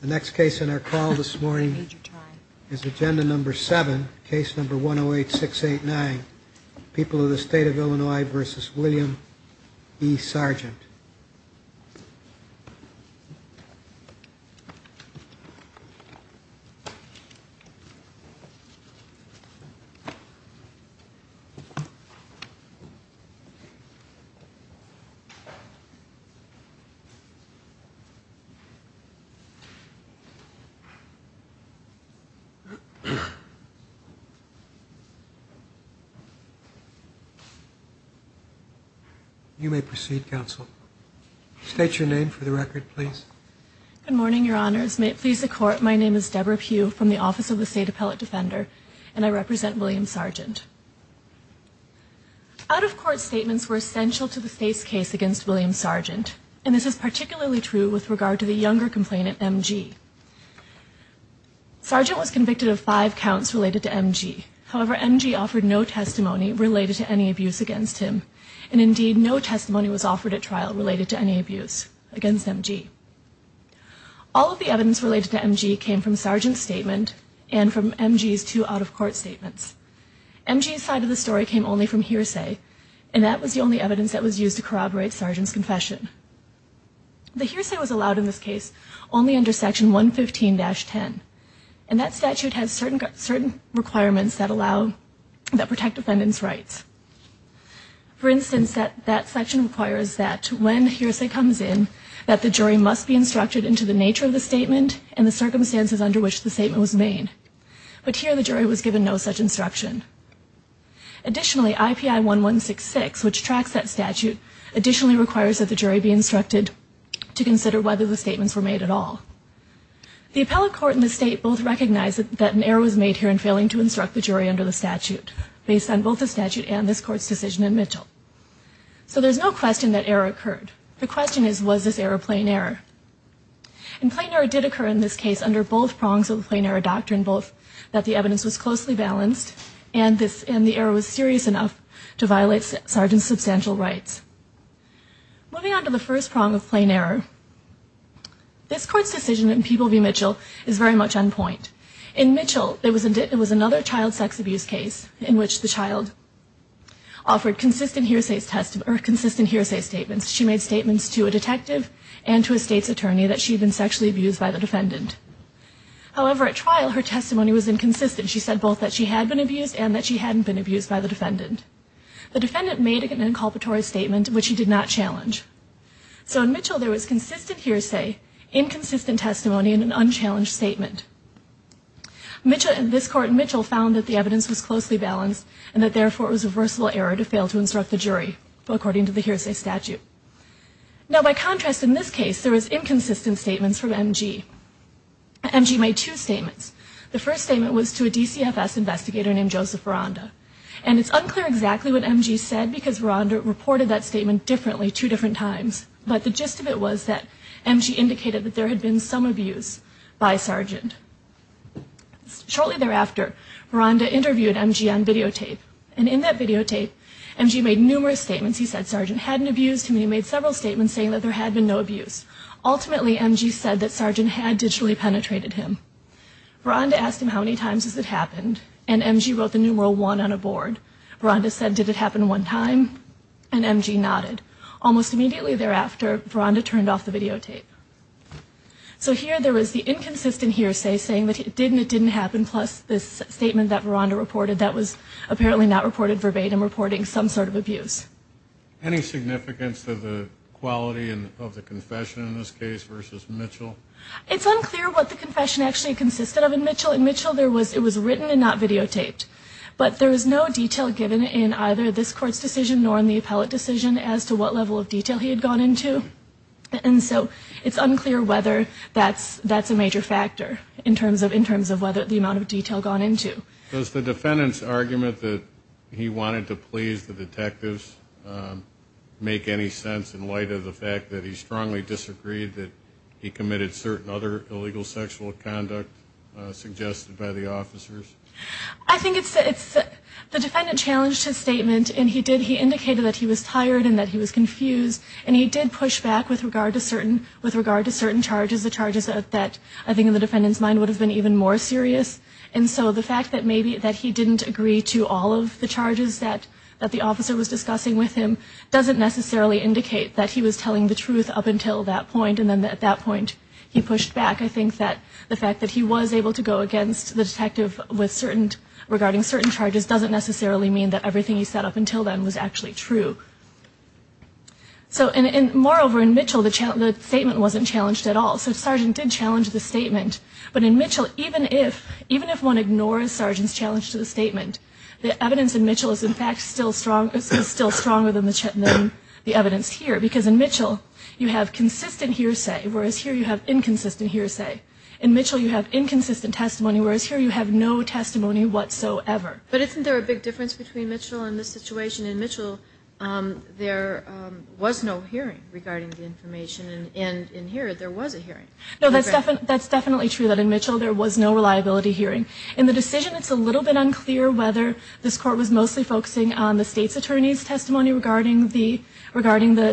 The next case in our call this morning is agenda number 7, case number 108-689, People of the State of Illinois v. William E. Sargent. You may proceed, counsel. State your name for the record, please. Good morning, Your Honors. May it please the Court, my name is Deborah Pugh from the Office of the State Appellate Defender, and I represent William Sargent. Out-of-court statements were essential to the state's case against William Sargent, and this is particularly true with regard to the younger complainant, M.G. Sargent was convicted of five counts related to M.G. However, M.G. offered no testimony related to any abuse against him, and indeed no testimony was offered at trial related to any abuse against M.G. All of the evidence related to M.G. came from Sargent's statement and from M.G.'s two out-of-court statements. M.G.'s side of the story came only from hearsay, and that was the only evidence that was used to corroborate Sargent's confession. The hearsay was allowed in this case only under section 115-10, and that statute has certain requirements that protect defendants' rights. For instance, that section requires that when hearsay comes in, that the jury must be instructed into the nature of the statement and the circumstances under which the statement was made. But here the jury was given no such instruction. Additionally, IPI 1166, which tracks that statute, additionally requires that the jury be instructed to consider whether the statements were made at all. The appellate court and the state both recognize that an error was made here in failing to instruct the jury under the statute, based on both the statute and this court's decision in Mitchell. So there's no question that error occurred. The question is, was this error plain error? And plain error did occur in this case under both prongs of the plain error doctrine, both that the evidence was closely balanced and the error was serious enough to violate Sargent's substantial rights. Moving on to the first prong of plain error, this court's decision in Peeble v. Mitchell is very much on point. In Mitchell, there was another child sex abuse case in which the child offered consistent hearsay statements. She made statements to a detective and to a state's attorney that she had been sexually abused by the defendant. However, at trial, her testimony was inconsistent. She said both that she had been abused and that she hadn't been abused by the defendant. The defendant made an inculpatory statement, which she did not challenge. So in Mitchell, there was consistent hearsay, inconsistent testimony, and an unchallenged statement. This court in Mitchell found that the evidence was closely balanced and that, therefore, it was a versatile error to fail to instruct the jury, according to the hearsay statute. Now, by contrast, in this case, there was inconsistent statements from MG. MG made two statements. The first statement was to a DCFS investigator named Joseph Veranda. And it's unclear exactly what MG said because Veranda reported that statement differently two different times. But the gist of it was that MG indicated that there had been some abuse by Sargent. Shortly thereafter, Veranda interviewed MG on videotape. And in that videotape, MG made numerous statements. He said Sargent hadn't abused him. He made several statements saying that there had been no abuse. Ultimately, MG said that Sargent had digitally penetrated him. Veranda asked him how many times has it happened. And MG wrote the numeral one on a board. Veranda said, did it happen one time? And MG nodded. Almost immediately thereafter, Veranda turned off the videotape. So here, there was the inconsistent hearsay saying that it did and it didn't happen, plus this statement that Veranda reported that was apparently not reported verbatim, reporting some sort of abuse. Any significance to the quality of the confession in this case versus Mitchell? It's unclear what the confession actually consisted of in Mitchell. In Mitchell, it was written and not videotaped. But there was no detail given in either this court's decision nor in the appellate decision as to what level of detail he had gone into. And so it's unclear whether that's a major factor in terms of whether the amount of detail gone into. Does the defendant's argument that he wanted to please the detectives make any sense in light of the fact that he strongly disagreed that he committed certain other illegal sexual conduct suggested by the officers? I think it's, the defendant challenged his statement and he did, he indicated that he was tired and that he was confused. And he did push back with regard to certain, with regard to certain charges, the charges that I think in the defendant's mind would have been even more serious. And so the fact that maybe that he didn't agree to all of the charges that the officer was discussing with him doesn't necessarily indicate that he was telling the truth up until that point. And then at that point, he pushed back. I think that the fact that he was able to go against the detective with certain, regarding certain charges doesn't necessarily mean that everything he said up until then was actually true. So, and moreover in Mitchell, the statement wasn't challenged at all. So Sargent did challenge the statement. But in Mitchell, even if, even if one ignores Sargent's challenge to the statement, the evidence in Mitchell is in fact still strong, is still stronger than the evidence here. Because in Mitchell, you have consistent hearsay, whereas here you have inconsistent hearsay. In Mitchell, you have inconsistent testimony, whereas here you have no testimony whatsoever. But isn't there a big difference between Mitchell and this situation? In Mitchell, there was no hearing regarding the information. And in here, there was a hearing. No, that's definitely true that in Mitchell there was no reliability hearing. In the decision, it's a little bit unclear whether this court was mostly focusing on the state's attorney's testimony regarding the, regarding the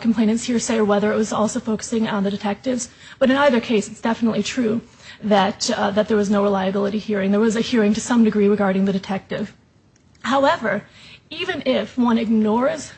complainant's hearsay or whether it was also focusing on the detective's. But in either case, it's definitely true that there was no reliability hearing. There was a hearing to some degree regarding the detective. However, even if one ignores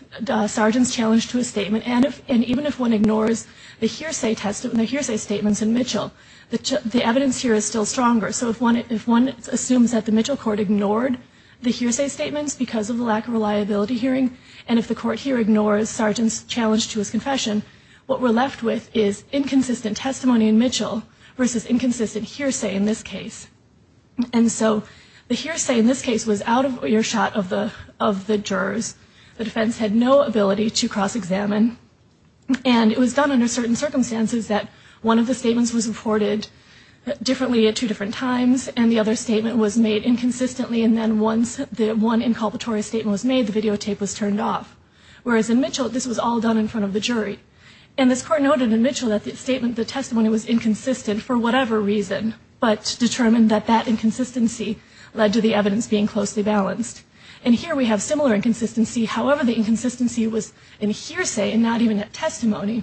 Sargent's challenge to a statement, and even if one ignores the hearsay testimony, the hearsay statements in Mitchell, the evidence here is still stronger. So if one assumes that the Mitchell court ignored the hearsay statements because of the lack of reliability hearing, and if the court here ignores Sargent's challenge to his confession, what we're left with is inconsistent testimony in Mitchell versus inconsistent hearsay in this case. And so the hearsay in this case was out of earshot of the jurors. The defense had no ability to cross-examine. And it was done under certain circumstances that one of the statements was reported differently at two different times, and the other statement was made inconsistently, and then once the one inculpatory statement was made, the videotape was turned off. Whereas in Mitchell, this was all done in front of the jury. And this court noted in Mitchell that the testimony was inconsistent for whatever reason, but determined that that inconsistency led to the evidence being closely balanced. And here we have similar inconsistency. However, the inconsistency was in hearsay and not even at testimony.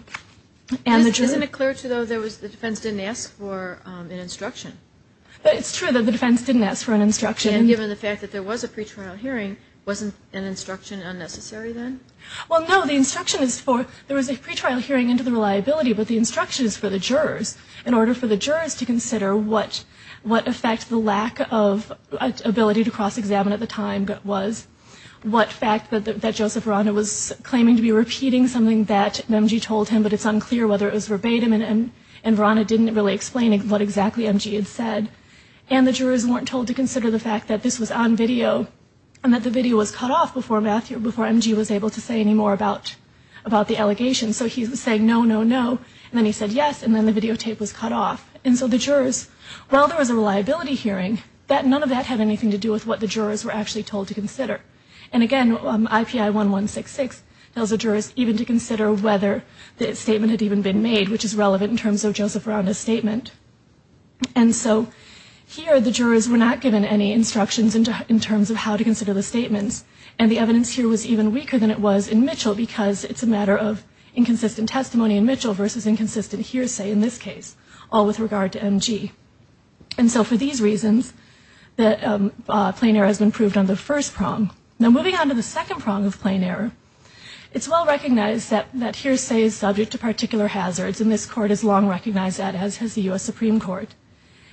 Isn't it clear, though, that the defense didn't ask for an instruction? It's true that the defense didn't ask for an instruction. And given the fact that there was a pretrial hearing, wasn't an instruction unnecessary then? Well, no, the instruction is for, there was a pretrial hearing into the reliability, but the instruction is for the jurors. In order for the jurors to consider what effect the lack of ability to cross-examine at the time was. What fact that Joseph Verano was claiming to be repeating something that MG told him, but it's unclear whether it was verbatim and Verano didn't really explain what exactly MG had said. And the jurors weren't told to consider the fact that this was on video and that the video was cut off before MG was able to say any more about the allegation. So he was saying no, no, no, and then he said yes, and then the videotape was cut off. And so the jurors, while there was a reliability hearing, none of that had anything to do with what the jurors were actually told to consider. And again, IPI 1166 tells the jurors even to consider whether the statement had even been made, which is relevant in terms of Joseph Verano's statement. And so here the jurors were not given any instructions in terms of how to consider the statements. And the evidence here was even weaker than it was in Mitchell because it's a matter of inconsistent testimony in Mitchell versus inconsistent hearsay in this case, all with regard to MG. And so for these reasons, the plain error has been proved on the first prong. Now moving on to the second prong of plain error. It's well recognized that hearsay is subject to particular hazards, and this court has long recognized that, as has the U.S. Supreme Court.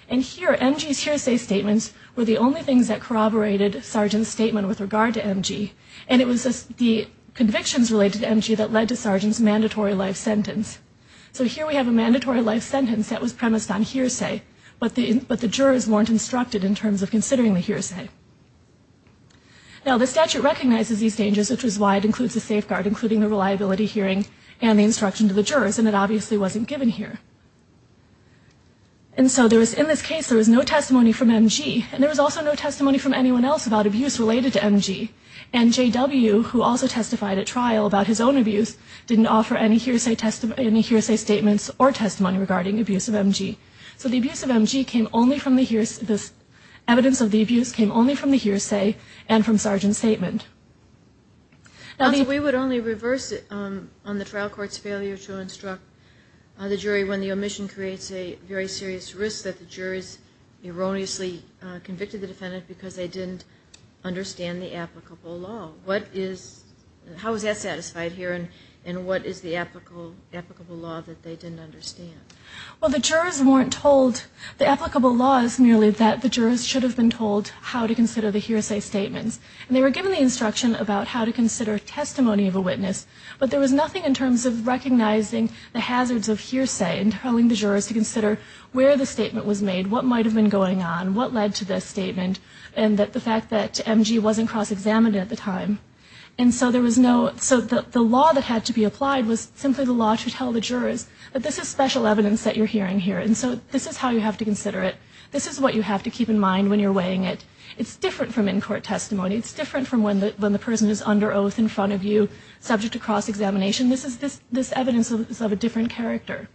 And here, MG's hearsay statements were the only things that corroborated Sargent's statement with regard to MG, and it was the convictions related to MG that led to Sargent's mandatory life sentence. So here we have a mandatory life sentence that was premised on hearsay, but the jurors weren't instructed in terms of considering the hearsay. Now the statute recognizes these dangers, which is why it includes a safeguard, including the reliability hearing and the instruction to the jurors, and it obviously wasn't given here. And so in this case there was no testimony from MG, and there was also no testimony from anyone else about abuse related to MG. And JW, who also testified at trial about his own abuse, didn't offer any hearsay statements or testimony regarding abuse of MG. So the abuse of MG came only from the hearsay, the evidence of the abuse came only from the hearsay and from Sargent's statement. Now we would only reverse it on the trial court's failure to instruct the jury when the omission creates a very serious risk that the jurors erroneously convicted the defendant because they didn't understand the applicable law. What is, how is that satisfied here, and what is the applicable law that they didn't understand? Well the jurors weren't told, the applicable law is merely that the jurors should have been told how to consider the hearsay statements. And they were given the instruction about how to consider testimony of a witness, but there was nothing in terms of recognizing the hazards of hearsay and telling the jurors to consider where the statement was made, what might have been going on, what led to this statement, and that the fact that MG wasn't cross-examined at the time. And so there was no, so the law that had to be applied was simply the law to tell the jurors that this is special evidence that you're hearing here, and so this is how you have to consider it, this is what you have to keep in mind when you're weighing it. It's different from in-court testimony, it's different from when the person is under oath in front of you, subject to cross-examination, this is, this evidence is of a different character.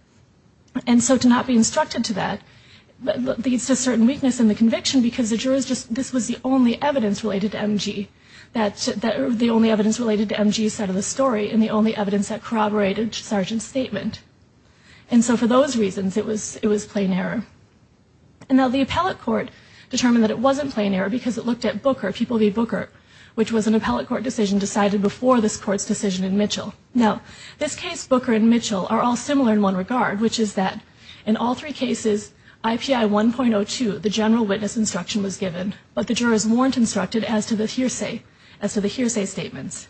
And so to not be instructed to that leads to certain weakness in the conviction because the jurors just, this was the only evidence related to MG, that, the only evidence related to MG's side of the story, and the only evidence that corroborated Sargent's statement. And so for those reasons it was, it was plain error. And now the appellate court determined that it wasn't plain error because it looked at Booker, People v. Booker, which was an appellate court decision decided before this court's decision in Mitchell. Now this case, Booker v. Mitchell, are all similar in one regard, which is that in all three cases, IPI 1.02, the general witness instruction was given, but the jurors weren't instructed as to the hearsay, as to the hearsay statements.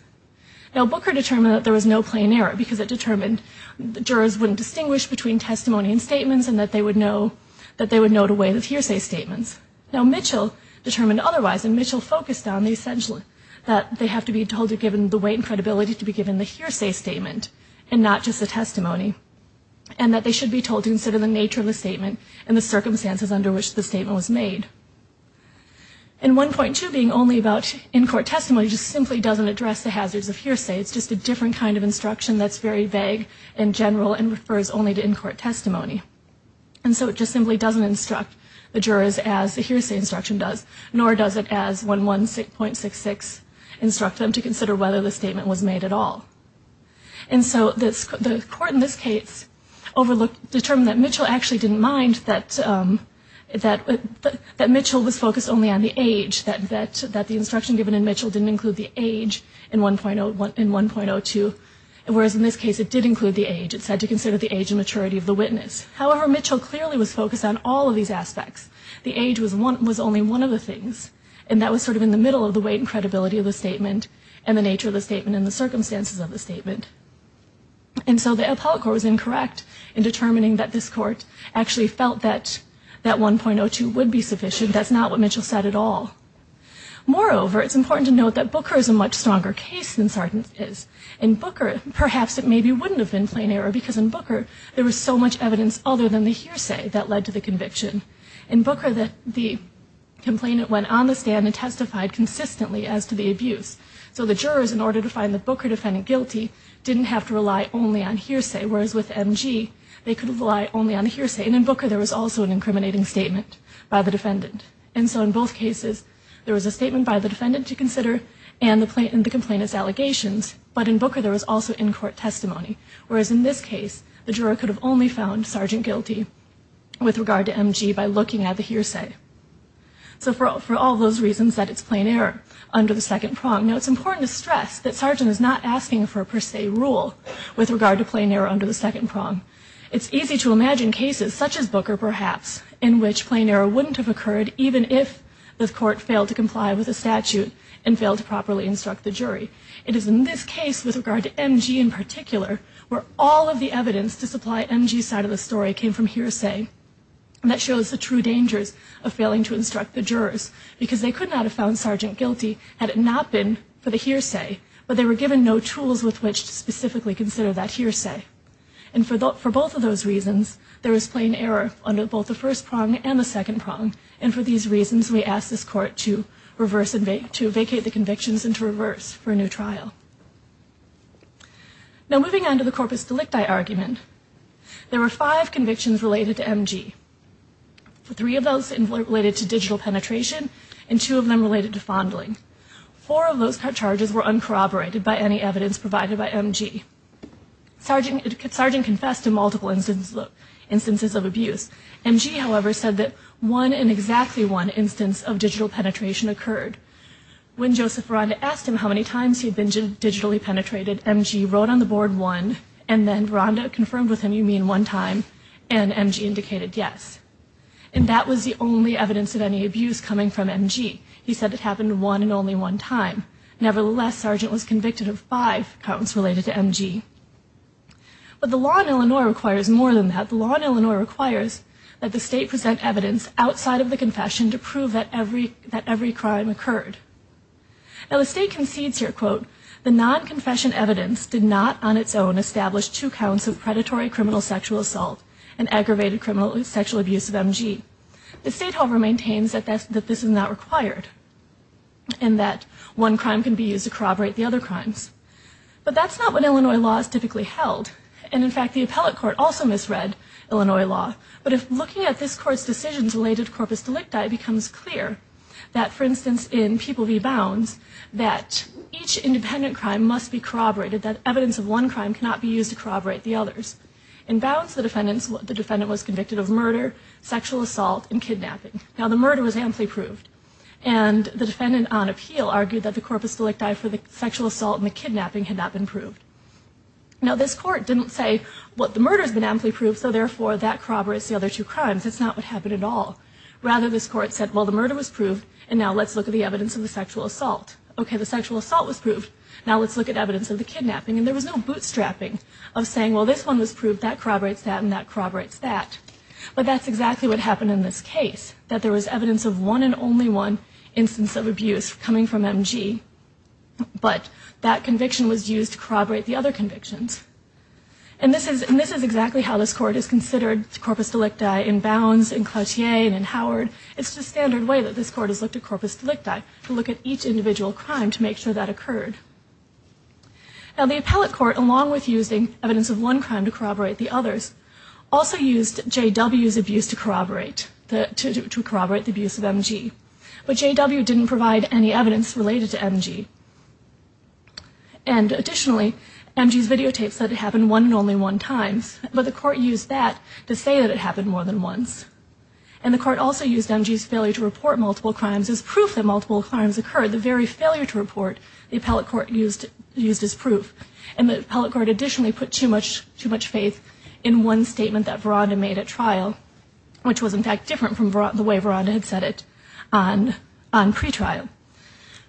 Now Booker determined that there was no plain error because it determined the jurors wouldn't distinguish between testimony and statements and that they would know, that they would know to weigh the hearsay statements. Now Mitchell determined otherwise, and Mitchell focused on the essential, that they have to be told to be given the weight and credibility to be given the hearsay statement and not just the testimony. And that they should be told to consider the nature of the statement and the circumstances under which the statement was made. And 1.2 being only about in-court testimony just simply doesn't address the hazards of hearsay. It's just a different kind of instruction that's very vague and general and refers only to in-court testimony. And so it just simply doesn't instruct the jurors as the hearsay instruction does, nor does it as 116.66 instruct them to consider whether the statement was made at all. And so the court in this case determined that Mitchell actually didn't mind that Mitchell was focused only on the age, that the instruction given in Mitchell didn't include the age in 1.02, whereas in this case it did include the age. It said to consider the age and maturity of the witness. However, Mitchell clearly was focused on all of these aspects. The age was only one of the things, and that was sort of in the middle of the weight and credibility of the statement and the nature of the statement and the circumstances of the statement. And so the appellate court was incorrect in determining that this court actually felt that that 1.02 would be sufficient. That's not what Mitchell said at all. Moreover, it's important to note that Booker is a much stronger case than Sartin is. In Booker, perhaps it maybe wouldn't have been plain error because in Booker there was so much evidence other than the hearsay that led to the conviction. In Booker, the complainant went on the stand and testified consistently as to the abuse. So the jurors, in order to find the Booker defendant guilty, didn't have to rely only on hearsay, whereas with MG they could rely only on hearsay. And in Booker, there was also an incriminating statement by the defendant. And so in both cases, there was a statement by the defendant to consider and the complainant's allegations. But in Booker, there was also in-court testimony, whereas in this case, the juror could have only found Sartin guilty with regard to MG by looking at the hearsay. So for all those reasons that it's plain error under the second prong. Now it's important to stress that Sartin is not asking for a per se rule with regard to plain error under the second prong. It's easy to imagine cases such as Booker, perhaps, in which plain error wouldn't have occurred even if the court failed to comply with the statute and failed to properly instruct the jury. It is in this case, with regard to MG in particular, where all of the evidence to supply MG's side of the story came from hearsay. And that shows the true dangers of failing to instruct the jurors because they could not have found Sartin guilty had it not been for the hearsay. But they were given no tools with which to specifically consider that hearsay. And for both of those reasons, there is plain error under both the first prong and the second prong. And for these reasons, we ask this court to vacate the convictions and to reverse for a new trial. Now moving on to the corpus delicti argument. There were five convictions related to MG. Three of those related to digital penetration and two of them related to fondling. Four of those charges were uncorroborated by any evidence provided by MG. Sartin confessed to multiple instances of abuse. MG, however, said that one and exactly one instance of digital penetration occurred. When Joseph Veranda asked him how many times he had been digitally penetrated, MG wrote on the board one. And then Veranda confirmed with him, you mean one time? And MG indicated yes. And that was the only evidence of any abuse coming from MG. He said it happened one and only one time. Nevertheless, Sartin was convicted of five counts related to MG. But the law in Illinois requires more than that. The law in Illinois requires that the state present evidence outside of the confession to prove that every crime occurred. Now the state concedes here, quote, the non-confession evidence did not on its own establish two counts of predatory criminal sexual assault and aggravated sexual abuse of MG. The state, however, maintains that this is not required. And that one crime can be used to corroborate the other crimes. But that's not what Illinois law is typically held. And in fact, the appellate court also misread Illinois law. But if looking at this court's decisions related to corpus delicti, it becomes clear that, for instance, in People v. Bounds, that each independent crime must be corroborated, that evidence of one crime cannot be used to corroborate the others. In Bounds, the defendant was convicted of murder, sexual assault, and kidnapping. Now the murder was amply proved. And the defendant on appeal argued that the corpus delicti for the sexual assault and the kidnapping had not been proved. Now this court didn't say, well, the murder's been amply proved, so therefore that corroborates the other two crimes. That's not what happened at all. Rather, this court said, well, the murder was proved, and now let's look at the evidence of the sexual assault. Okay, the sexual assault was proved. Now let's look at evidence of the kidnapping. And there was no bootstrapping of saying, well, this one was proved, that corroborates that, and that corroborates that. But that's exactly what happened in this case, that there was evidence of one and only one instance of abuse coming from MG. But that conviction was used to corroborate the other convictions. And this is exactly how this court has considered corpus delicti in Bounds, in Cloutier, and in Howard. It's the standard way that this court has looked at corpus delicti, to look at each individual crime to make sure that occurred. Now the appellate court, along with using evidence of one crime to corroborate the others, also used JW's abuse to corroborate, to corroborate the abuse of MG. But JW didn't provide any evidence related to MG. And additionally, MG's videotapes said it happened one and only one times, but the court used that to say that it happened more than once. And the court also used MG's failure to report multiple crimes as proof that multiple crimes occurred, the very failure to report the appellate court used as proof. And the appellate court additionally put too much faith in one statement that Veranda made at trial, which was in fact different from the way Veranda had said it on pretrial.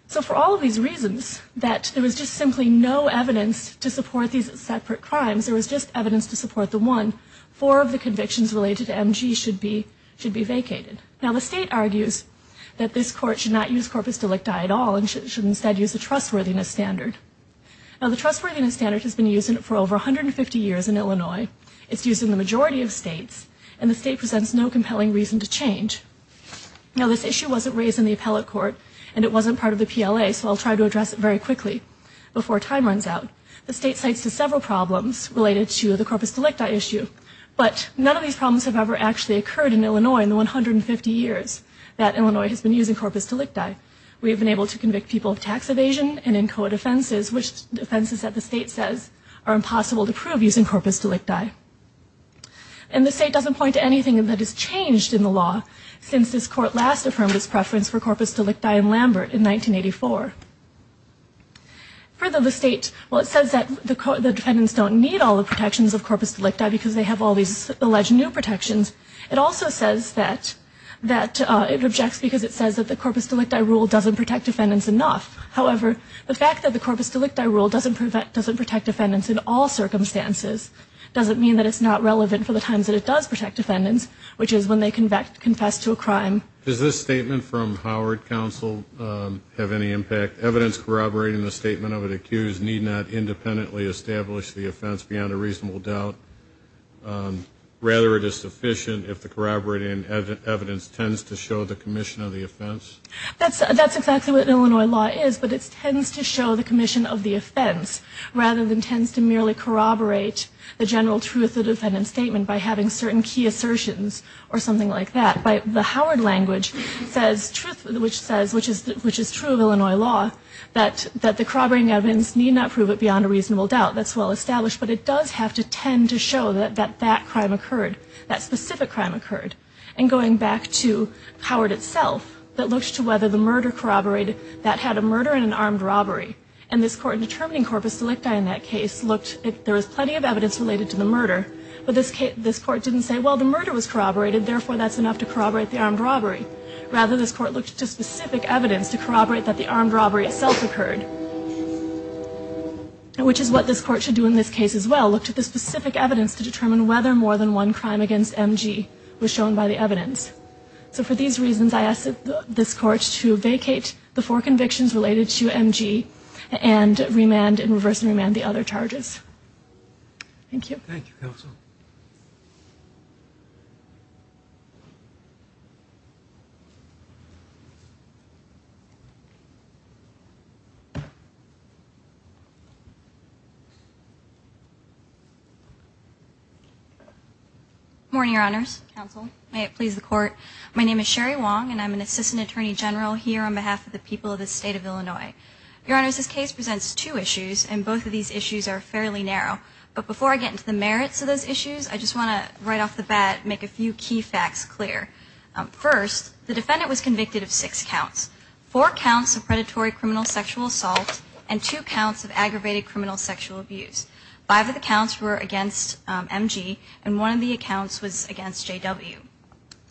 So for all of these reasons, that there was just simply no evidence to support these separate crimes, there was just evidence to support the one, four of the convictions related to MG should be vacated. Now the state argues that this court should not use corpus delicti at all, and should instead use the trustworthiness standard. Now the trustworthiness standard has been used for over 150 years in Illinois. It's used in the majority of states. And the state presents no compelling reason to change. Now this issue wasn't raised in the appellate court, and it wasn't part of the PLA, so I'll try to address it very quickly before time runs out. The state cites several problems related to the corpus delicti issue, but none of these problems have ever actually occurred in Illinois in the 150 years that Illinois has been using corpus delicti. We have been able to convict people of tax evasion and in COA defenses, which defenses that the state says are impossible to prove using corpus delicti. And the state doesn't point to anything that has changed in the law since this court last affirmed its preference for corpus delicti in Lambert in 1984. Further, the state, well it says that the defendants don't need all the protections of corpus delicti because they have all these alleged new protections. It also says that, it objects because it says that the corpus delicti rule doesn't protect defendants enough. However, the fact that the corpus delicti rule doesn't protect defendants in all circumstances doesn't mean that it's not relevant for the times that it does protect defendants, which is when they confess to a crime. Does this statement from Howard Counsel have any impact? Evidence corroborating the statement of an accused need not independently establish the offense beyond a reasonable doubt. Rather, it is sufficient if the corroborating evidence tends to show the commission of the offense. That's exactly what Illinois law is, but it tends to show the commission of the offense rather than tends to merely corroborate the general truth of the defendant's statement by having certain key assertions or something like that. The Howard language says, which is true of Illinois law, that the corroborating evidence need not prove it beyond a reasonable doubt. That's well established, but it does have to tend to show that that crime occurred, that specific crime occurred. And going back to Howard itself, that looks to whether the murder corroborated that had a murder and an armed robbery. And this court, in determining corpus delicti in that case, looked if there was plenty of evidence related to the murder. But this court didn't say, well, the murder was corroborated, therefore that's enough to corroborate the armed robbery. Rather, this court looked to specific evidence to corroborate that the armed robbery itself occurred, which is what this court should do in this case as well, look to the specific evidence to determine whether more than one crime against MG was shown by the evidence. So for these reasons, I asked this court to vacate the four convictions related to MG and remand and reverse remand the other charges. Thank you. Thank you, counsel. Good morning, your honors, counsel. May it please the court. My name is Sherry Wong and I'm an assistant attorney general here on behalf of the people of the state of Illinois. Your honors, this case presents two issues and both of these issues are fairly narrow. But before I get into the merits of those issues, I just want to, right off the bat, make a few key facts clear. First, the defendant was convicted of six counts. Four counts of predatory criminal sexual assault and two counts of aggravated criminal sexual abuse. Five of the counts were against MG and one of the accounts was against JW.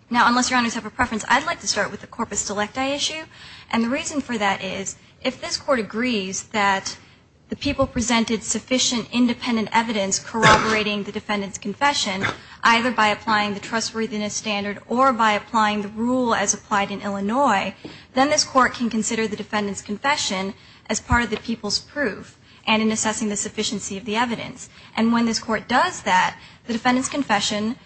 Now, unless your honors have a preference, I'd like to start with the corpus delicti issue. And the reason for that is if this court agrees that the people presented sufficient independent evidence corroborating the defendant's confession, either by applying the trustworthiness standard or by applying the rule as applied in Illinois, then this court can consider the defendant's confession as part of the people's proof and in assessing the sufficiency of the evidence. And when this court does that, the defendant's confession,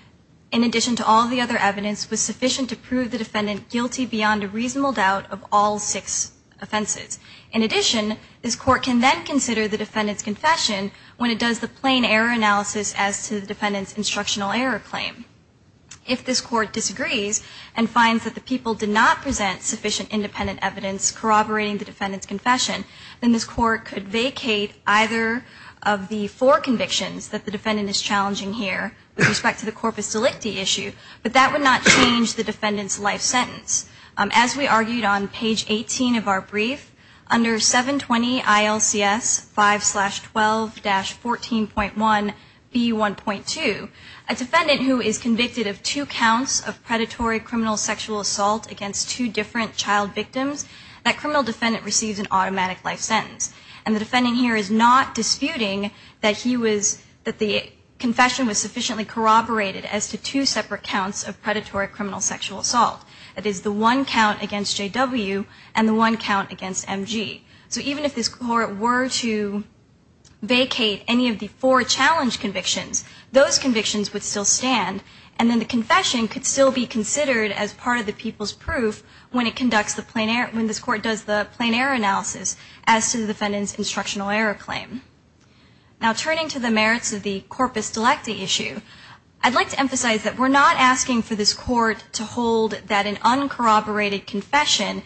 in addition to all the other evidence, was sufficient to prove the defendant guilty beyond a reasonable doubt of all six offenses. In addition, this court can then consider the defendant's confession when it does the plain error analysis as to the defendant's instructional error claim. If this court disagrees and finds that the people did not present sufficient independent evidence corroborating the defendant's confession, then this court could vacate either of the four convictions that the defendant is challenging here with respect to the corpus delicti issue, but that would not change the defendant's life sentence. As we argued on page 18 of our brief, under 720 ILCS 5-12-14.1B1.2, a defendant who is convicted of two counts of predatory criminal sexual assault against two different child victims, that criminal defendant receives an automatic life sentence. And the defendant here is not disputing that the confession was sufficiently corroborated as to two separate counts of predatory criminal sexual assault. That is the one count against JW and the one count against MG. So even if this court were to vacate any of the four challenge convictions, those convictions would still stand and then the confession could still be considered as part of the people's proof when this court does the plain error analysis as to the defendant's instructional error claim. Now turning to the merits of the corpus delicti issue, I'd like to emphasize that we're not asking for this court to hold that an uncorroborated confession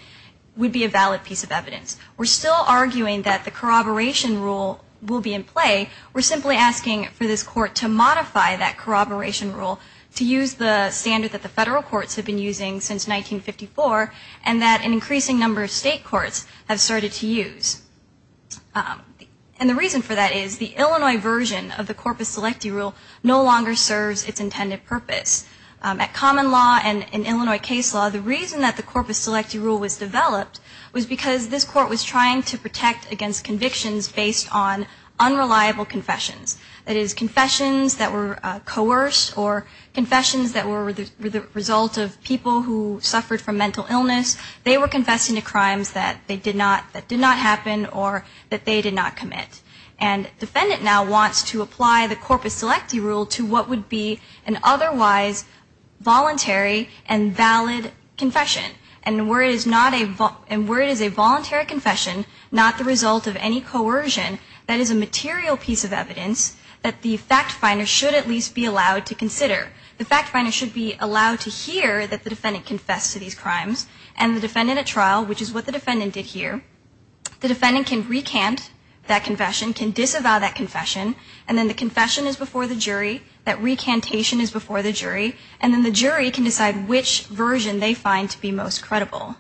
would be a valid piece of evidence. We're still arguing that the corroboration rule will be in play. We're simply asking for this court to modify that corroboration rule to use the standard that the federal courts have been using since 1954 and that an increasing number of state courts have started to use. And the reason for that is the Illinois version of the corpus delicti rule no longer serves its intended purpose. At common law and in Illinois case law, the reason that the corpus delicti rule was developed was because this court was trying to protect against convictions based on unreliable confessions. That is, confessions that were coerced or confessions that were the result of people who suffered from mental illness. They were confessing to crimes that did not happen or that they did not commit. And the defendant now wants to apply the corpus delicti rule to what would be an otherwise voluntary and valid confession. And where it is a voluntary confession, not the result of any coercion, that is a material piece of evidence that the fact finder should at least be allowed to consider. The fact finder should be allowed to hear that the defendant confessed to these crimes and the defendant at trial, which is what the defendant did here, the defendant can recant that confession, can disavow that confession, and then the confession is before the jury and then the jury can decide which version they find to be most credible.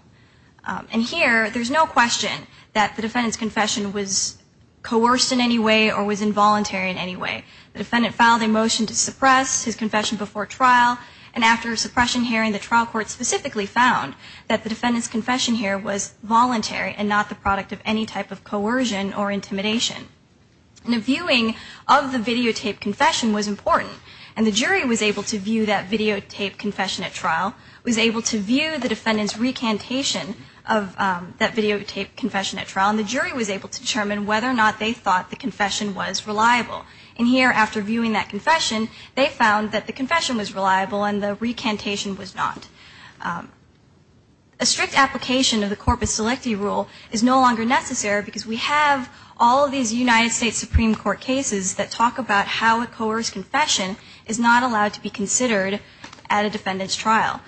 And here, there is no question that the defendant's confession was coerced in any way or was involuntary in any way. The defendant filed a motion to suppress his confession before trial and after suppression hearing, the trial court specifically found that the defendant's confession here was voluntary and not the product of any type And a viewing of the videotaped confession was important and the jury was able to view that videotaped confession at trial, was able to view the defendant's recantation of that videotaped confession at trial, and the jury was able to determine whether or not they thought the confession was reliable. And here, after viewing that confession, they found that the confession was reliable and the recantation was not. A strict application of the corpus selecti rule is no longer necessary because we have all of these United States Supreme Court cases that talk about how a coerced confession is not allowed to be considered at a defendant's trial.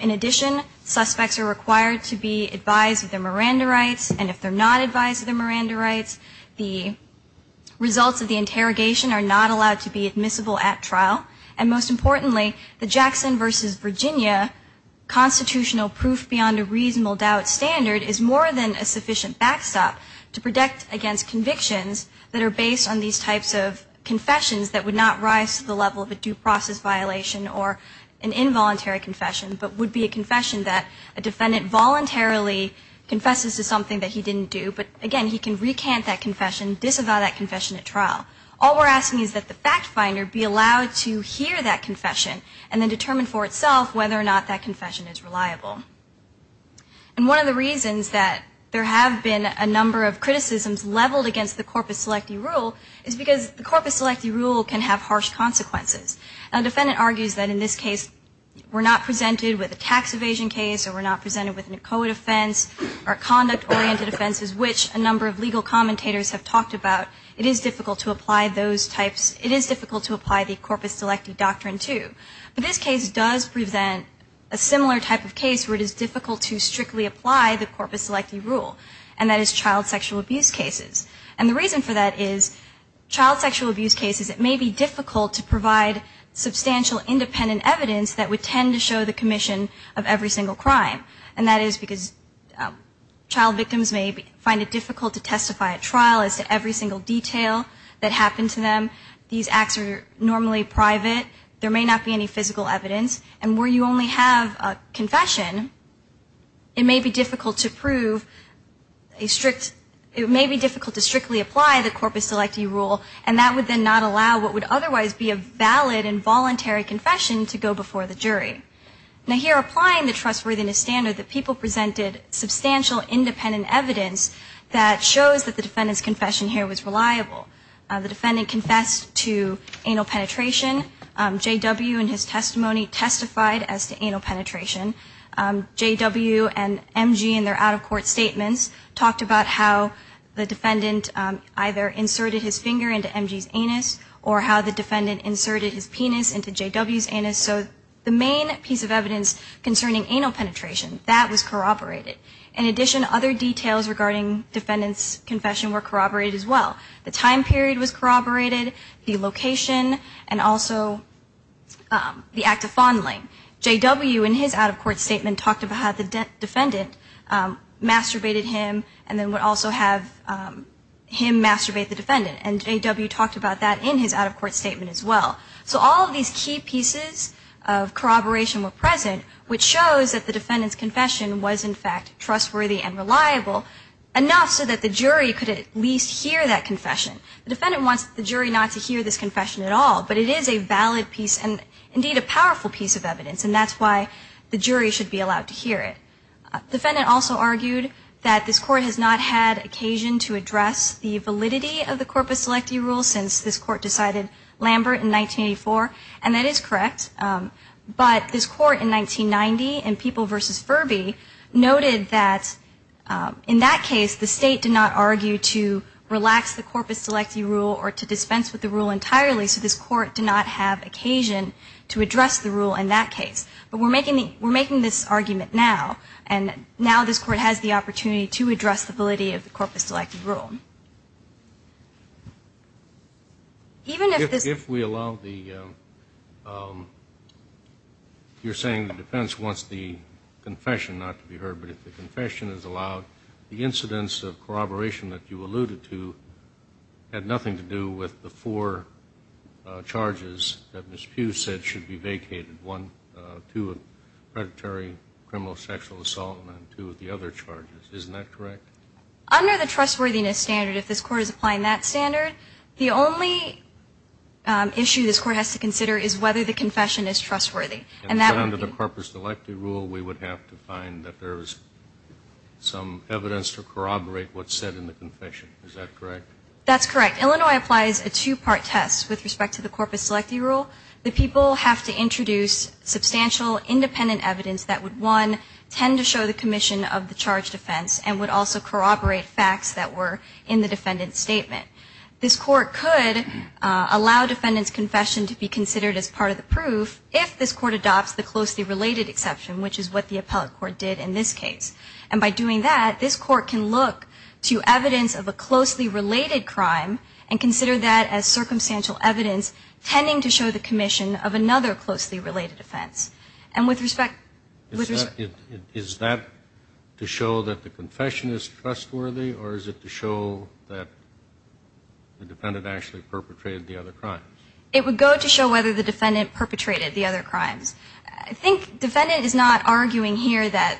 In addition, suspects are required to be advised of their Miranda rights and if they're not advised of their Miranda rights, the results of the interrogation are not allowed to be admissible at trial. And most importantly, the Jackson v. Virginia constitutional proof beyond a reasonable doubt standard is more than a sufficient backstop to protect against convictions that are based on these types of confessions that would not rise to the level of a due process violation or an involuntary confession, but would be a confession that a defendant voluntarily confesses to something that he didn't do, but again, he can recant that confession, disavow that confession at trial. All we're asking is that the fact finder be allowed to hear that confession and then determine for itself whether or not that confession is reliable. And one of the reasons that there have been a number of criticisms leveled against the corpus selecti rule can have harsh consequences. A defendant argues that in this case we're not presented with a tax evasion case or we're not presented with an ECOA defense or conduct-oriented offenses which a number of legal commentators have talked about. It is difficult to apply those types, it is difficult to apply the corpus selecti doctrine too. But this case does present a similar type of case where it is difficult to strictly apply the corpus selecti rule and that is child sexual abuse cases. And the reason for that is it may be difficult to provide substantial independent evidence that would tend to show the commission of every single crime. And that is because child victims may find it difficult to testify at trial as to every single detail that happened to them. These acts are normally private. There may not be any physical evidence. And where you only have a confession, it may be difficult to prove a strict, it may be difficult to strictly apply the corpus selecti rule and that would then not allow what would otherwise be a valid and voluntary confession to go before the jury. Now here applying the trustworthiness standard that people presented substantial independent evidence that shows that the defendant's confession here was reliable. The defendant confessed to anal penetration. J.W. in his testimony testified as to anal penetration. J.W. and M.G. in their out-of-court statements talked about how the defendant either inserted his finger into M.G.'s anus or how the defendant inserted his penis into J.W.'s anus. So the main piece of evidence concerning anal penetration, that was corroborated. In addition, other details regarding defendant's confession were corroborated as well. The time period was corroborated, the location, and also the act of fondling. J.W. in his out-of-court statement talked about how the defendant masturbated him and the defendant masturbated him. and J.W. talked about that in his out-of-court statement as well. So all of these key pieces of corroboration were present which shows that the defendant's confession was in fact trustworthy and reliable enough so that the jury could at least hear that confession. The defendant wants the jury not to hear this confession at all, but it is a valid piece and indeed a powerful piece of evidence and that's why the jury has not heard it at all since this Court decided Lambert in 1984 and that is correct, but this Court in 1990 in People v. Furby noted that in that case the State did not argue to relax the corpus delecti rule or to dispense with the rule entirely so this Court did not have occasion to address the rule in that case. But we're making this argument now and now this Court has the opportunity to address the validity of the corpus delecti rule. Even if this... If we allow the... You're saying the defense wants the confession not to be heard, but if the confession is allowed the incidence of corroboration that you alluded to had nothing to do with the four charges that Ms. Pugh said should be vacated, one, two of predatory criminal sexual assault and two of the other charges. The only issue this Court has to consider is whether the confession is trustworthy. And under the corpus delecti rule we would have to find that there's some evidence to corroborate what's said in the confession. Is that correct? That's correct. Illinois applies a two-part test with respect to the corpus delecti rule. The people have to introduce substantial independent evidence that would allow defendant's confession to be considered as part of the proof if this Court adopts the closely related exception, which is what the appellate court did in this case. And by doing that, this Court can look to evidence of a closely related crime and consider that as circumstantial evidence tending to show the commission of another closely related offense. And with respect... It would go to show whether the defendant perpetrated the other crimes. I think defendant is not arguing here that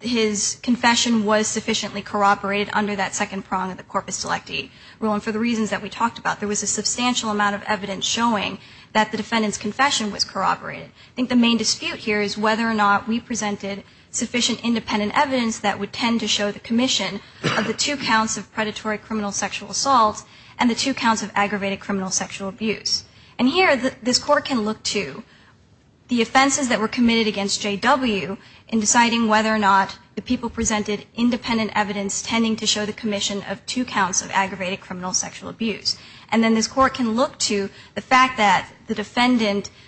his confession was sufficiently corroborated under that second prong of the corpus delecti rule. And for the reasons that we talked about, there was a substantial amount of evidence showing that the defendant's confession was corroborated. I think the main dispute here is whether or not the defendant presented tending to show the commission of two counts of aggravated criminal sexual abuse. And here this Court can look to the offenses that were committed against J.W. in deciding whether or not the people presented independent evidence tending to show the commission of two counts of aggravated criminal sexual abuse. And then this Court can look to whether or not the defendant's confession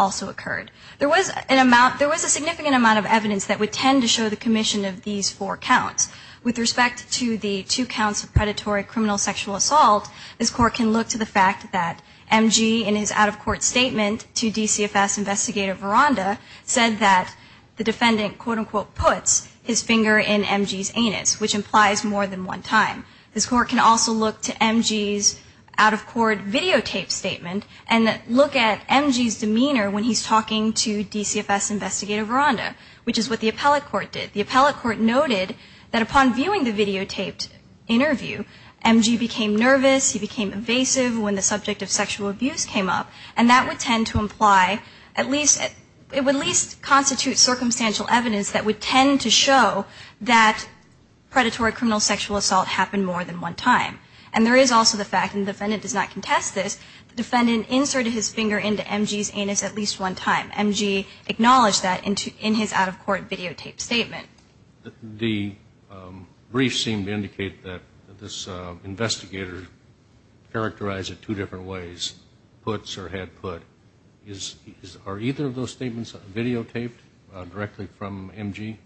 also occurred. There was a significant amount of evidence that would tend to show the commission of these four counts. With respect to the two counts of predatory criminal sexual assault, this Court can look to the fact that M.G. in his out-of-court statement to DCFS investigator Veranda said that the defendant quote unquote puts his finger in M.G.'s anus when he's talking to DCFS investigator Veranda, which is what the appellate court did. The appellate court noted that upon viewing the videotaped interview, M.G. became nervous, he became evasive when the subject of sexual abuse came up, and that would tend to imply at least, it would at least constitute circumstantial evidence that would tend to show that predatory criminal sexual assault happened more than one time. And there is also the fact, that M.G. acknowledged that in his out-of-court videotaped statement. The briefs seem to indicate that this investigator characterized it two different ways, puts or had put. Are either of those statements videotaped directly from M.G.?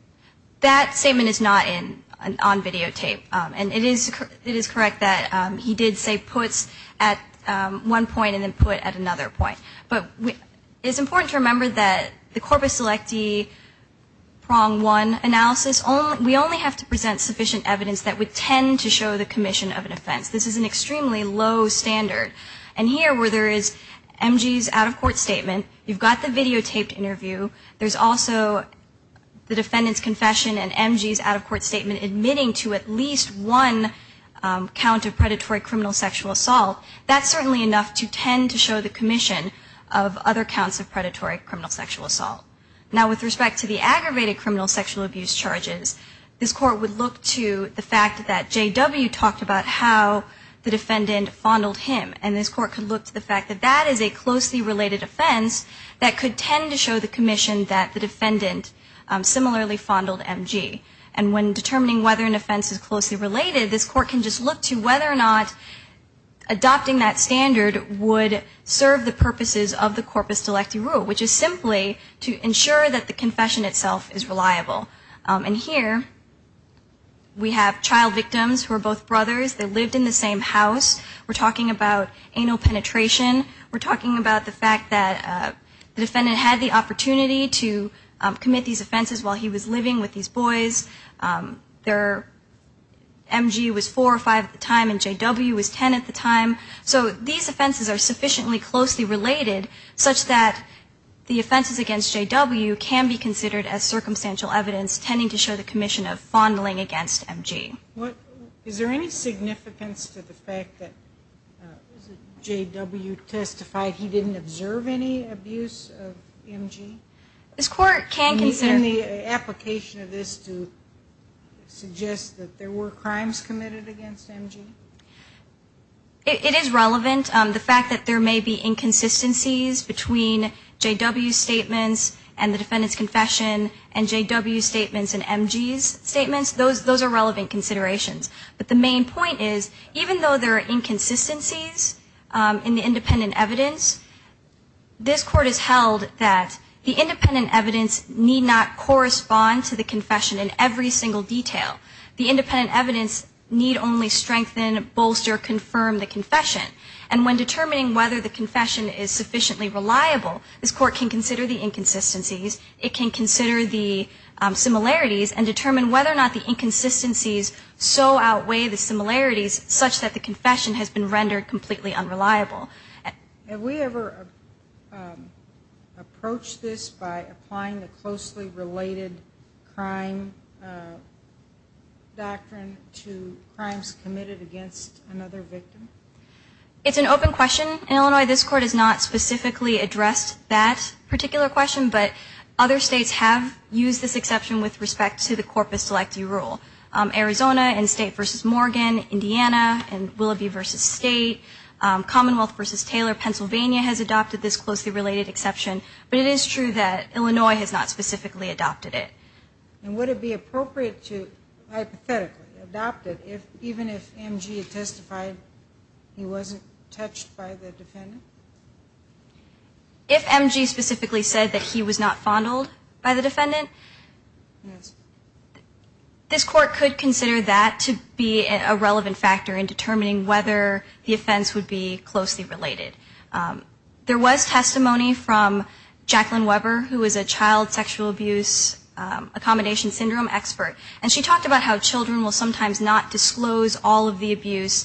That statement is not on videotape. And it is correct that he did say puts at one point and then put at another point. But it is important to remember that the corpus selecti prong one analysis, we only have to present sufficient evidence that would tend to show the commission of an offense. This is an extremely low standard. And here where there is M.G.'s out-of-court statement, you've got the videotaped interview, there's also the defendant's confession and M.G.'s out-of-court statement admitting to at least one count of predatory criminal sexual assault. Now with respect to the aggravated criminal sexual abuse charges, this court would look to the fact that J.W. talked about how the defendant fondled him. And this court could look to the fact that that is a closely related offense that could tend to show the commission that the defendant similarly fondled M.G. And when determining whether an offense is closely related, this court can just look to whether or not adopting that offenses of the corpus delicti rule, which is simply to ensure that the confession itself is reliable. And here we have child victims who are both brothers. They lived in the same house. We're talking about anal penetration. We're talking about the fact that the defendant had the opportunity to commit these offenses while he was living with these boys. Their M.G. was 4 or 5 at the time. And this court would look to the fact that the defendant fondled M.G. And this court could look to offenses of the corpus delicti rule, which is simply to ensure that the defendant similarly fondled M.G. And here we have child victims who are both brothers. They lived in the same house. We're talking about the fact that the defendant fondled M.G. And here we have child victims And here we have child victims who are both brothers. So there are inconsistencies between J.W.'s statements and the defendant's confession and J.W.'s statements and M.G.'s statements. Those are relevant and certainly reliable. This court can consider the inconsistencies. It can consider the similarities and determine whether or not the inconsistencies so outweigh the similarities such that the confession has been rendered completely unreliable. Have we ever approached this by applying the closely related crime doctrine to crimes committed against another victim? We have not specifically addressed that particular question, but other states have used this exception with respect to the corpus electi rule. Arizona and State v. Morgan, Indiana and Willoughby v. State, Commonwealth v. Taylor, Pennsylvania has adopted this closely related exception, but it is true that Illinois has not specifically adopted it. And would it be appropriate if M.G. specifically said that he was not fondled by the defendant? This court could consider that to be a relevant factor in determining whether the offense would be closely related. There was testimony from Jacqueline Weber who is a child sexual abuse accommodation syndrome expert and she talked about how children will sometimes not disclose all of the abuse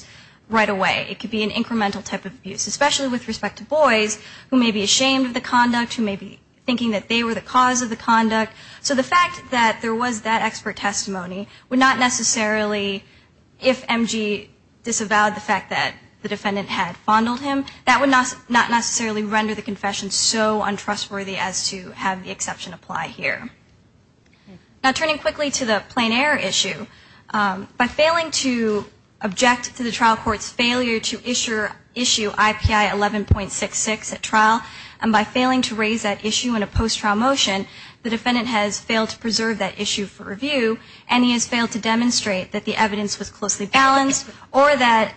that they have experienced. So the fact that there was that expert testimony would not necessarily, if M.G. disavowed the fact that the defendant had fondled him, that would not necessarily render the confession so untrustworthy as to have the exception apply here. Now turning quickly to the plain error issue, by failing to object to the trial court's failure to issue I.P.I. 11.66 at trial, and by failing to raise that issue in a post-trial motion, the defendant has failed to preserve that issue for review and he has failed to demonstrate that the evidence was closely balanced or that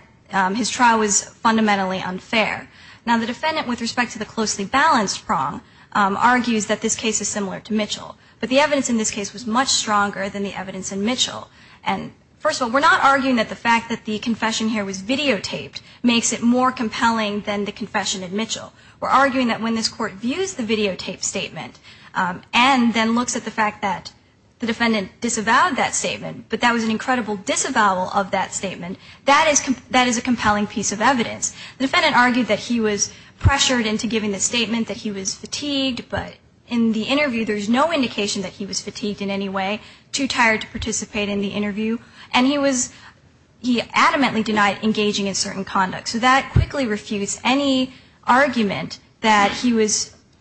his trial was fundamentally unfair. Now the defendant with respect to the closely balanced prong argues that this case is similar to Mitchell, but the evidence in this case was much stronger than the evidence in Mitchell. So the fact that when this court views the videotaped statement and then looks at the fact that the defendant disavowed that statement, but that was an incredible disavowal of that statement, that is a compelling piece of evidence. The defendant argued that he was pressured into giving the statement that he was fatigued, but in the interview there is no indication that he was fatigued in any way, too he was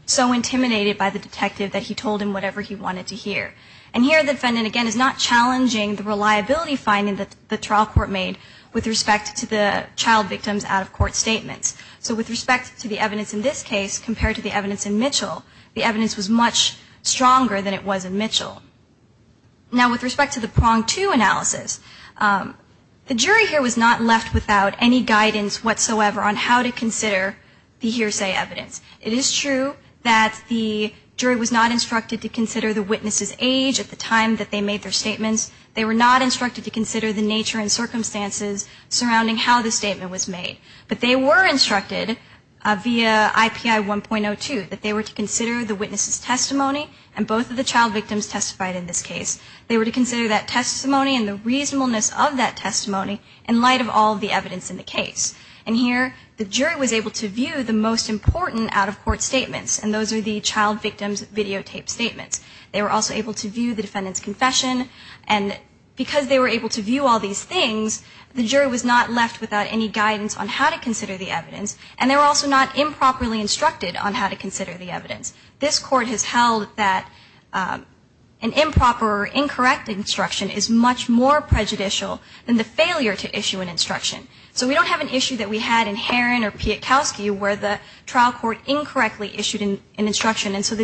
so intimidated by the detective that he told him whatever he wanted to hear. And here the defendant again is not challenging the reliability finding that the trial court made with respect to the child victims out of court statements. So with respect to the evidence in this case compared to the evidence in Mitchell, the evidence was much stronger than it was in Mitchell. Now with respect to the prong it is true that the jury was not instructed to consider the witness's age at the time that they made their statements. They were not instructed to consider the nature and circumstances surrounding how the statement was made. But they were instructed via IPI 1.02 that they were to consider the witness's testimony and both of the child victims testified in this case. They were to consider that testimony and those are the child victims videotaped statements. They were also able to view the defendant's confession and because they were able to view all these things the jury was not left without any guidance on how to consider the evidence and they were also not improperly instructed on how to consider the evidence. This court has held that an improper or incorrect instruction is much more prejudicial than the appropriate instruction. So the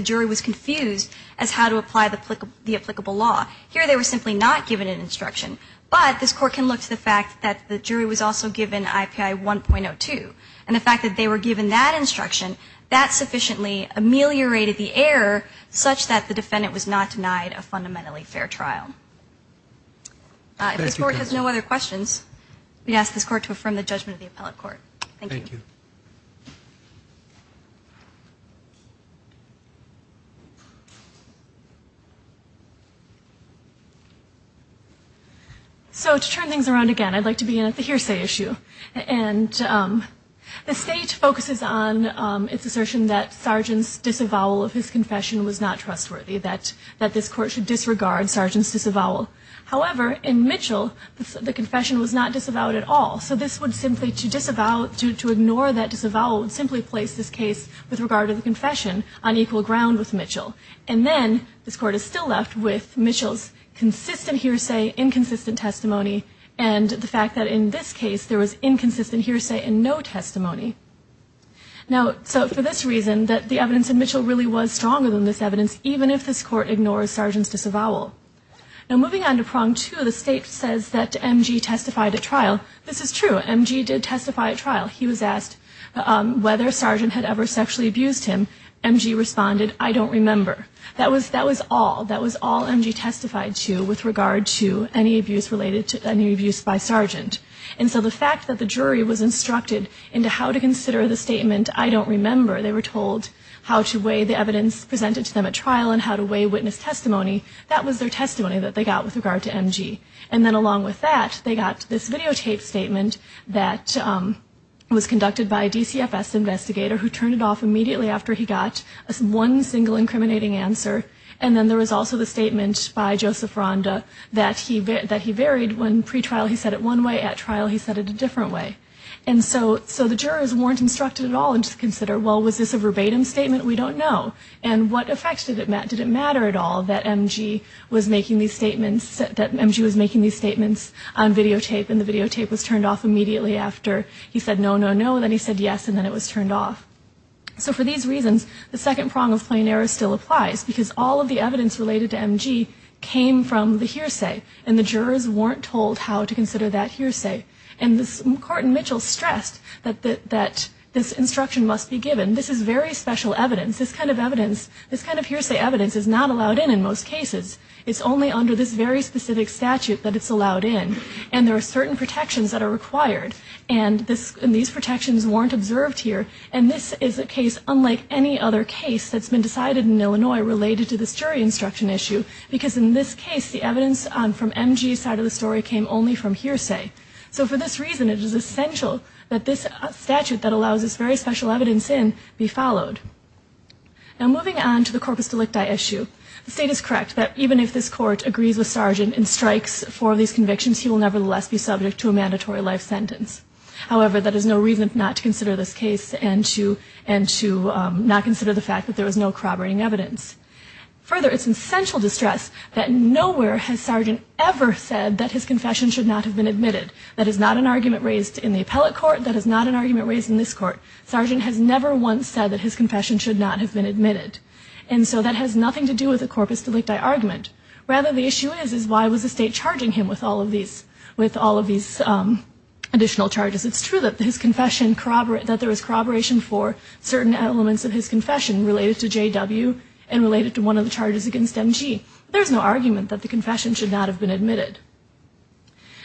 jury was confused as how to apply the applicable law. Here they were simply not given an instruction but this court can look to the fact that the jury was also given IPI 1.02 and the fact that they were given that instruction that sufficiently ameliorated the error such that the defendant was not denied a fundamentally fair trial. If this court has no other questions we ask this case to close. So to turn things around again I'd like to begin at the hearsay issue and the state focuses on its assertion that sergeant's disavowal of his confession was not trustworthy, that this court should disregard sergeant's disavowal. However in Mitchell the confession was not disavowed at all so this would simply to ignore that disavowal would simply place this case with regard to the confession on equal ground with Mitchell. And then this court is still left with Mitchell's consistent hearsay, inconsistent testimony and the fact that in this case there was inconsistent hearsay and no testimony. Now so for this reason that the evidence in Mitchell really was stronger than this evidence even if this court ignores sergeant's disavowal. Now moving on to the evidence presented to him, MG responded I don't remember. That was all, that was all MG testified to with regard to any abuse related to any abuse by sergeant. And so the fact that the jury was instructed into how to consider the statement I don't remember, they were told how to weigh the evidence presented to them at trial and how to weigh witness testimony, that was their testimony that they got after he got one single incriminating answer. And then there was also the statement by Joseph Ronda that he varied when pretrial he said it one way, at trial he said it a different way. And so the jurors weren't instructed at all to consider well was this a verbatim statement, we don't know. And what effect did it matter at all that MG was making these statements on videotape and the videotape was turned off immediately after he made the statement. jurors weren't told how to consider the statement, the second prong of plain error still applies because all of the evidence related to MG came from the hearsay and the jurors weren't told how to consider that hearsay. And this Court in Mitchell stressed that this instruction must be given. This is very special evidence. This kind of evidence, this kind of considered in any other case that's been decided in Illinois related to this jury instruction issue because in this case the evidence on from MG's side of the story came only from hearsay. So for this reason it is essential that this statute that allows this very special evidence in be followed. Now moving on to the corpus delicti issue, the State is correct that even if this statute is not in effect, there is no corroborating evidence. Further, it's essential to stress that nowhere has Sergeant ever said that his confession should not have been admitted. That is not an argument raised in the appellate court, that is not an argument raised in this court. Sergeant has never once said that his confession should not have been admitted. And so that in the appellate court. There is no argument that the confession related to JW and related to one of the charges against MG. There is no argument that the confession should not have been admitted.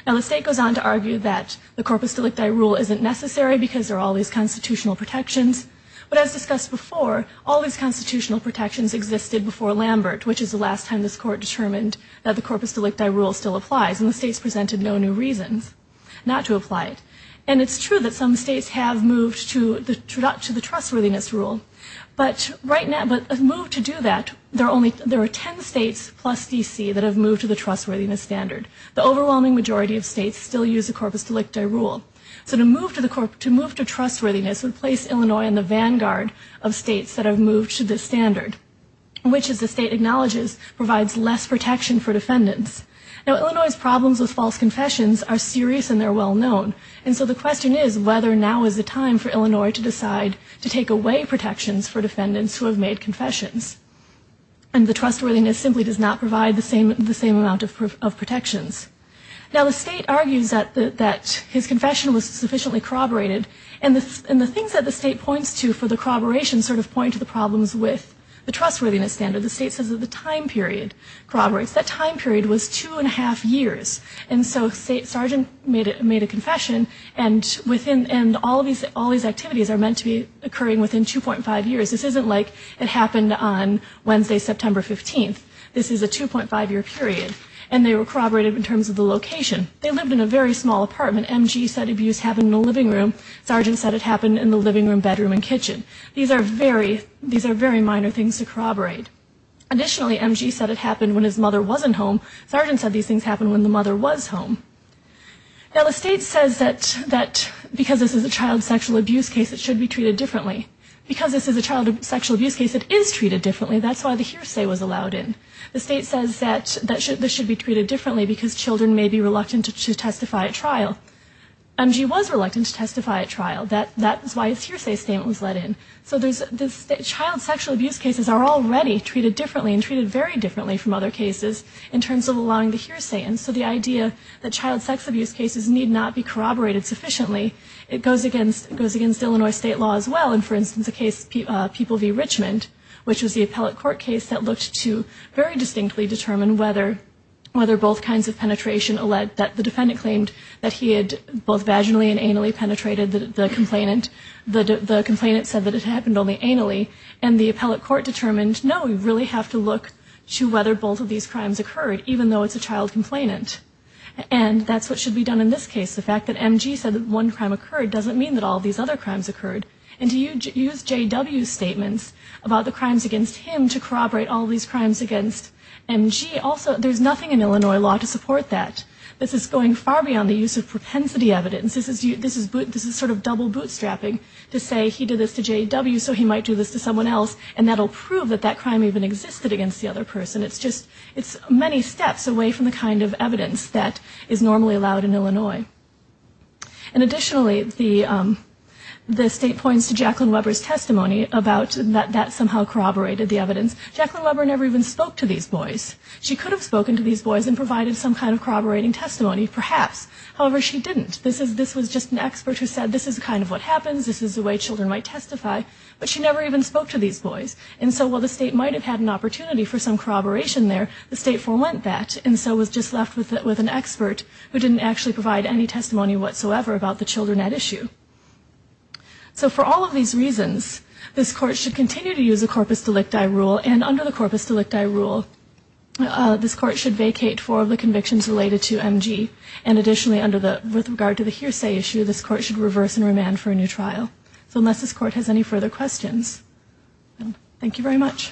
Now the State goes on to argue that the corpus delicti rule isn't necessary because there are all these constitutional protections. But as discussed before, all these constitutional protections are necessary. But a move to do that, there are 10 states plus D.C. that have moved to the trustworthiness standard. The overwhelming majority of states still use the corpus delicti rule. So to move to trustworthiness would place Illinois in the vanguard of states that have moved to this standard, which as the State acknowledges provides less protection for defendants. Now Illinois's defendants who have made confessions. And the trustworthiness simply does not provide the same amount of protections. Now the State argues that his confession was sufficiently corroborated. And the things that the State points to for the corroboration sort of point to the problems with the trustworthiness standard. The State says that the time period corroborates. That time period was two and a half years. And they corroborated in terms of the location. They lived in a very small apartment. M.G. said abuse happened in the living room. Sergeant said it happened in the living room, bedroom, and kitchen. These are very minor things to corroborate. Additionally M.G. said it happened when his mother wasn't home. Sergeant said these things happened when the mother was home. Now the State says that because this is a child sexual abuse case it is treated differently. That's why the hearsay was allowed in. The State says that this should be treated differently because children may be reluctant to testify at trial. M.G. was reluctant to testify at trial. That's why his hearsay statement was let in. So child sexual abuse cases are already treated differently and treated very differently from other cases in terms of allowing the defendant to testify at trial. The defendant's case in Richmond, which was the appellate court case that looked to very distinctly determine whether both kinds of penetration alleged that the defendant claimed that he had both vaginally and anally penetrated the complainant. The complainant said that it happened only anally. And the appellate court determined no, we really have to look to whether both of these crimes are true. And the State points to Jacqueline Weber's testimony about the crimes against him to corroborate all these crimes against M.G. also. There's nothing in Illinois law to support that. This is going far beyond the use of propensity evidence. This is sort of double bootstrapping to say he did this to J.W. so he might do this to someone else and that will prove that that crime even existed against the other State did that, somehow corroborated the evidence, Jacqueline Weber never even spoke to these boys. She could have spoken to these boys and provided some kind of corroborating testimony perhaps. However, she didn't. This was just an expert who said this is kind of what happens, this is the way children might testify. But she never even spoke to these boys. And so while the State did not use a corpus delicti rule, and under the corpus delicti rule, this Court should vacate four of the convictions related to M.G. and additionally with regard to the hearsay issue, this Court should reverse and remand for a new trial. So unless this Court has any further questions, thank you very much.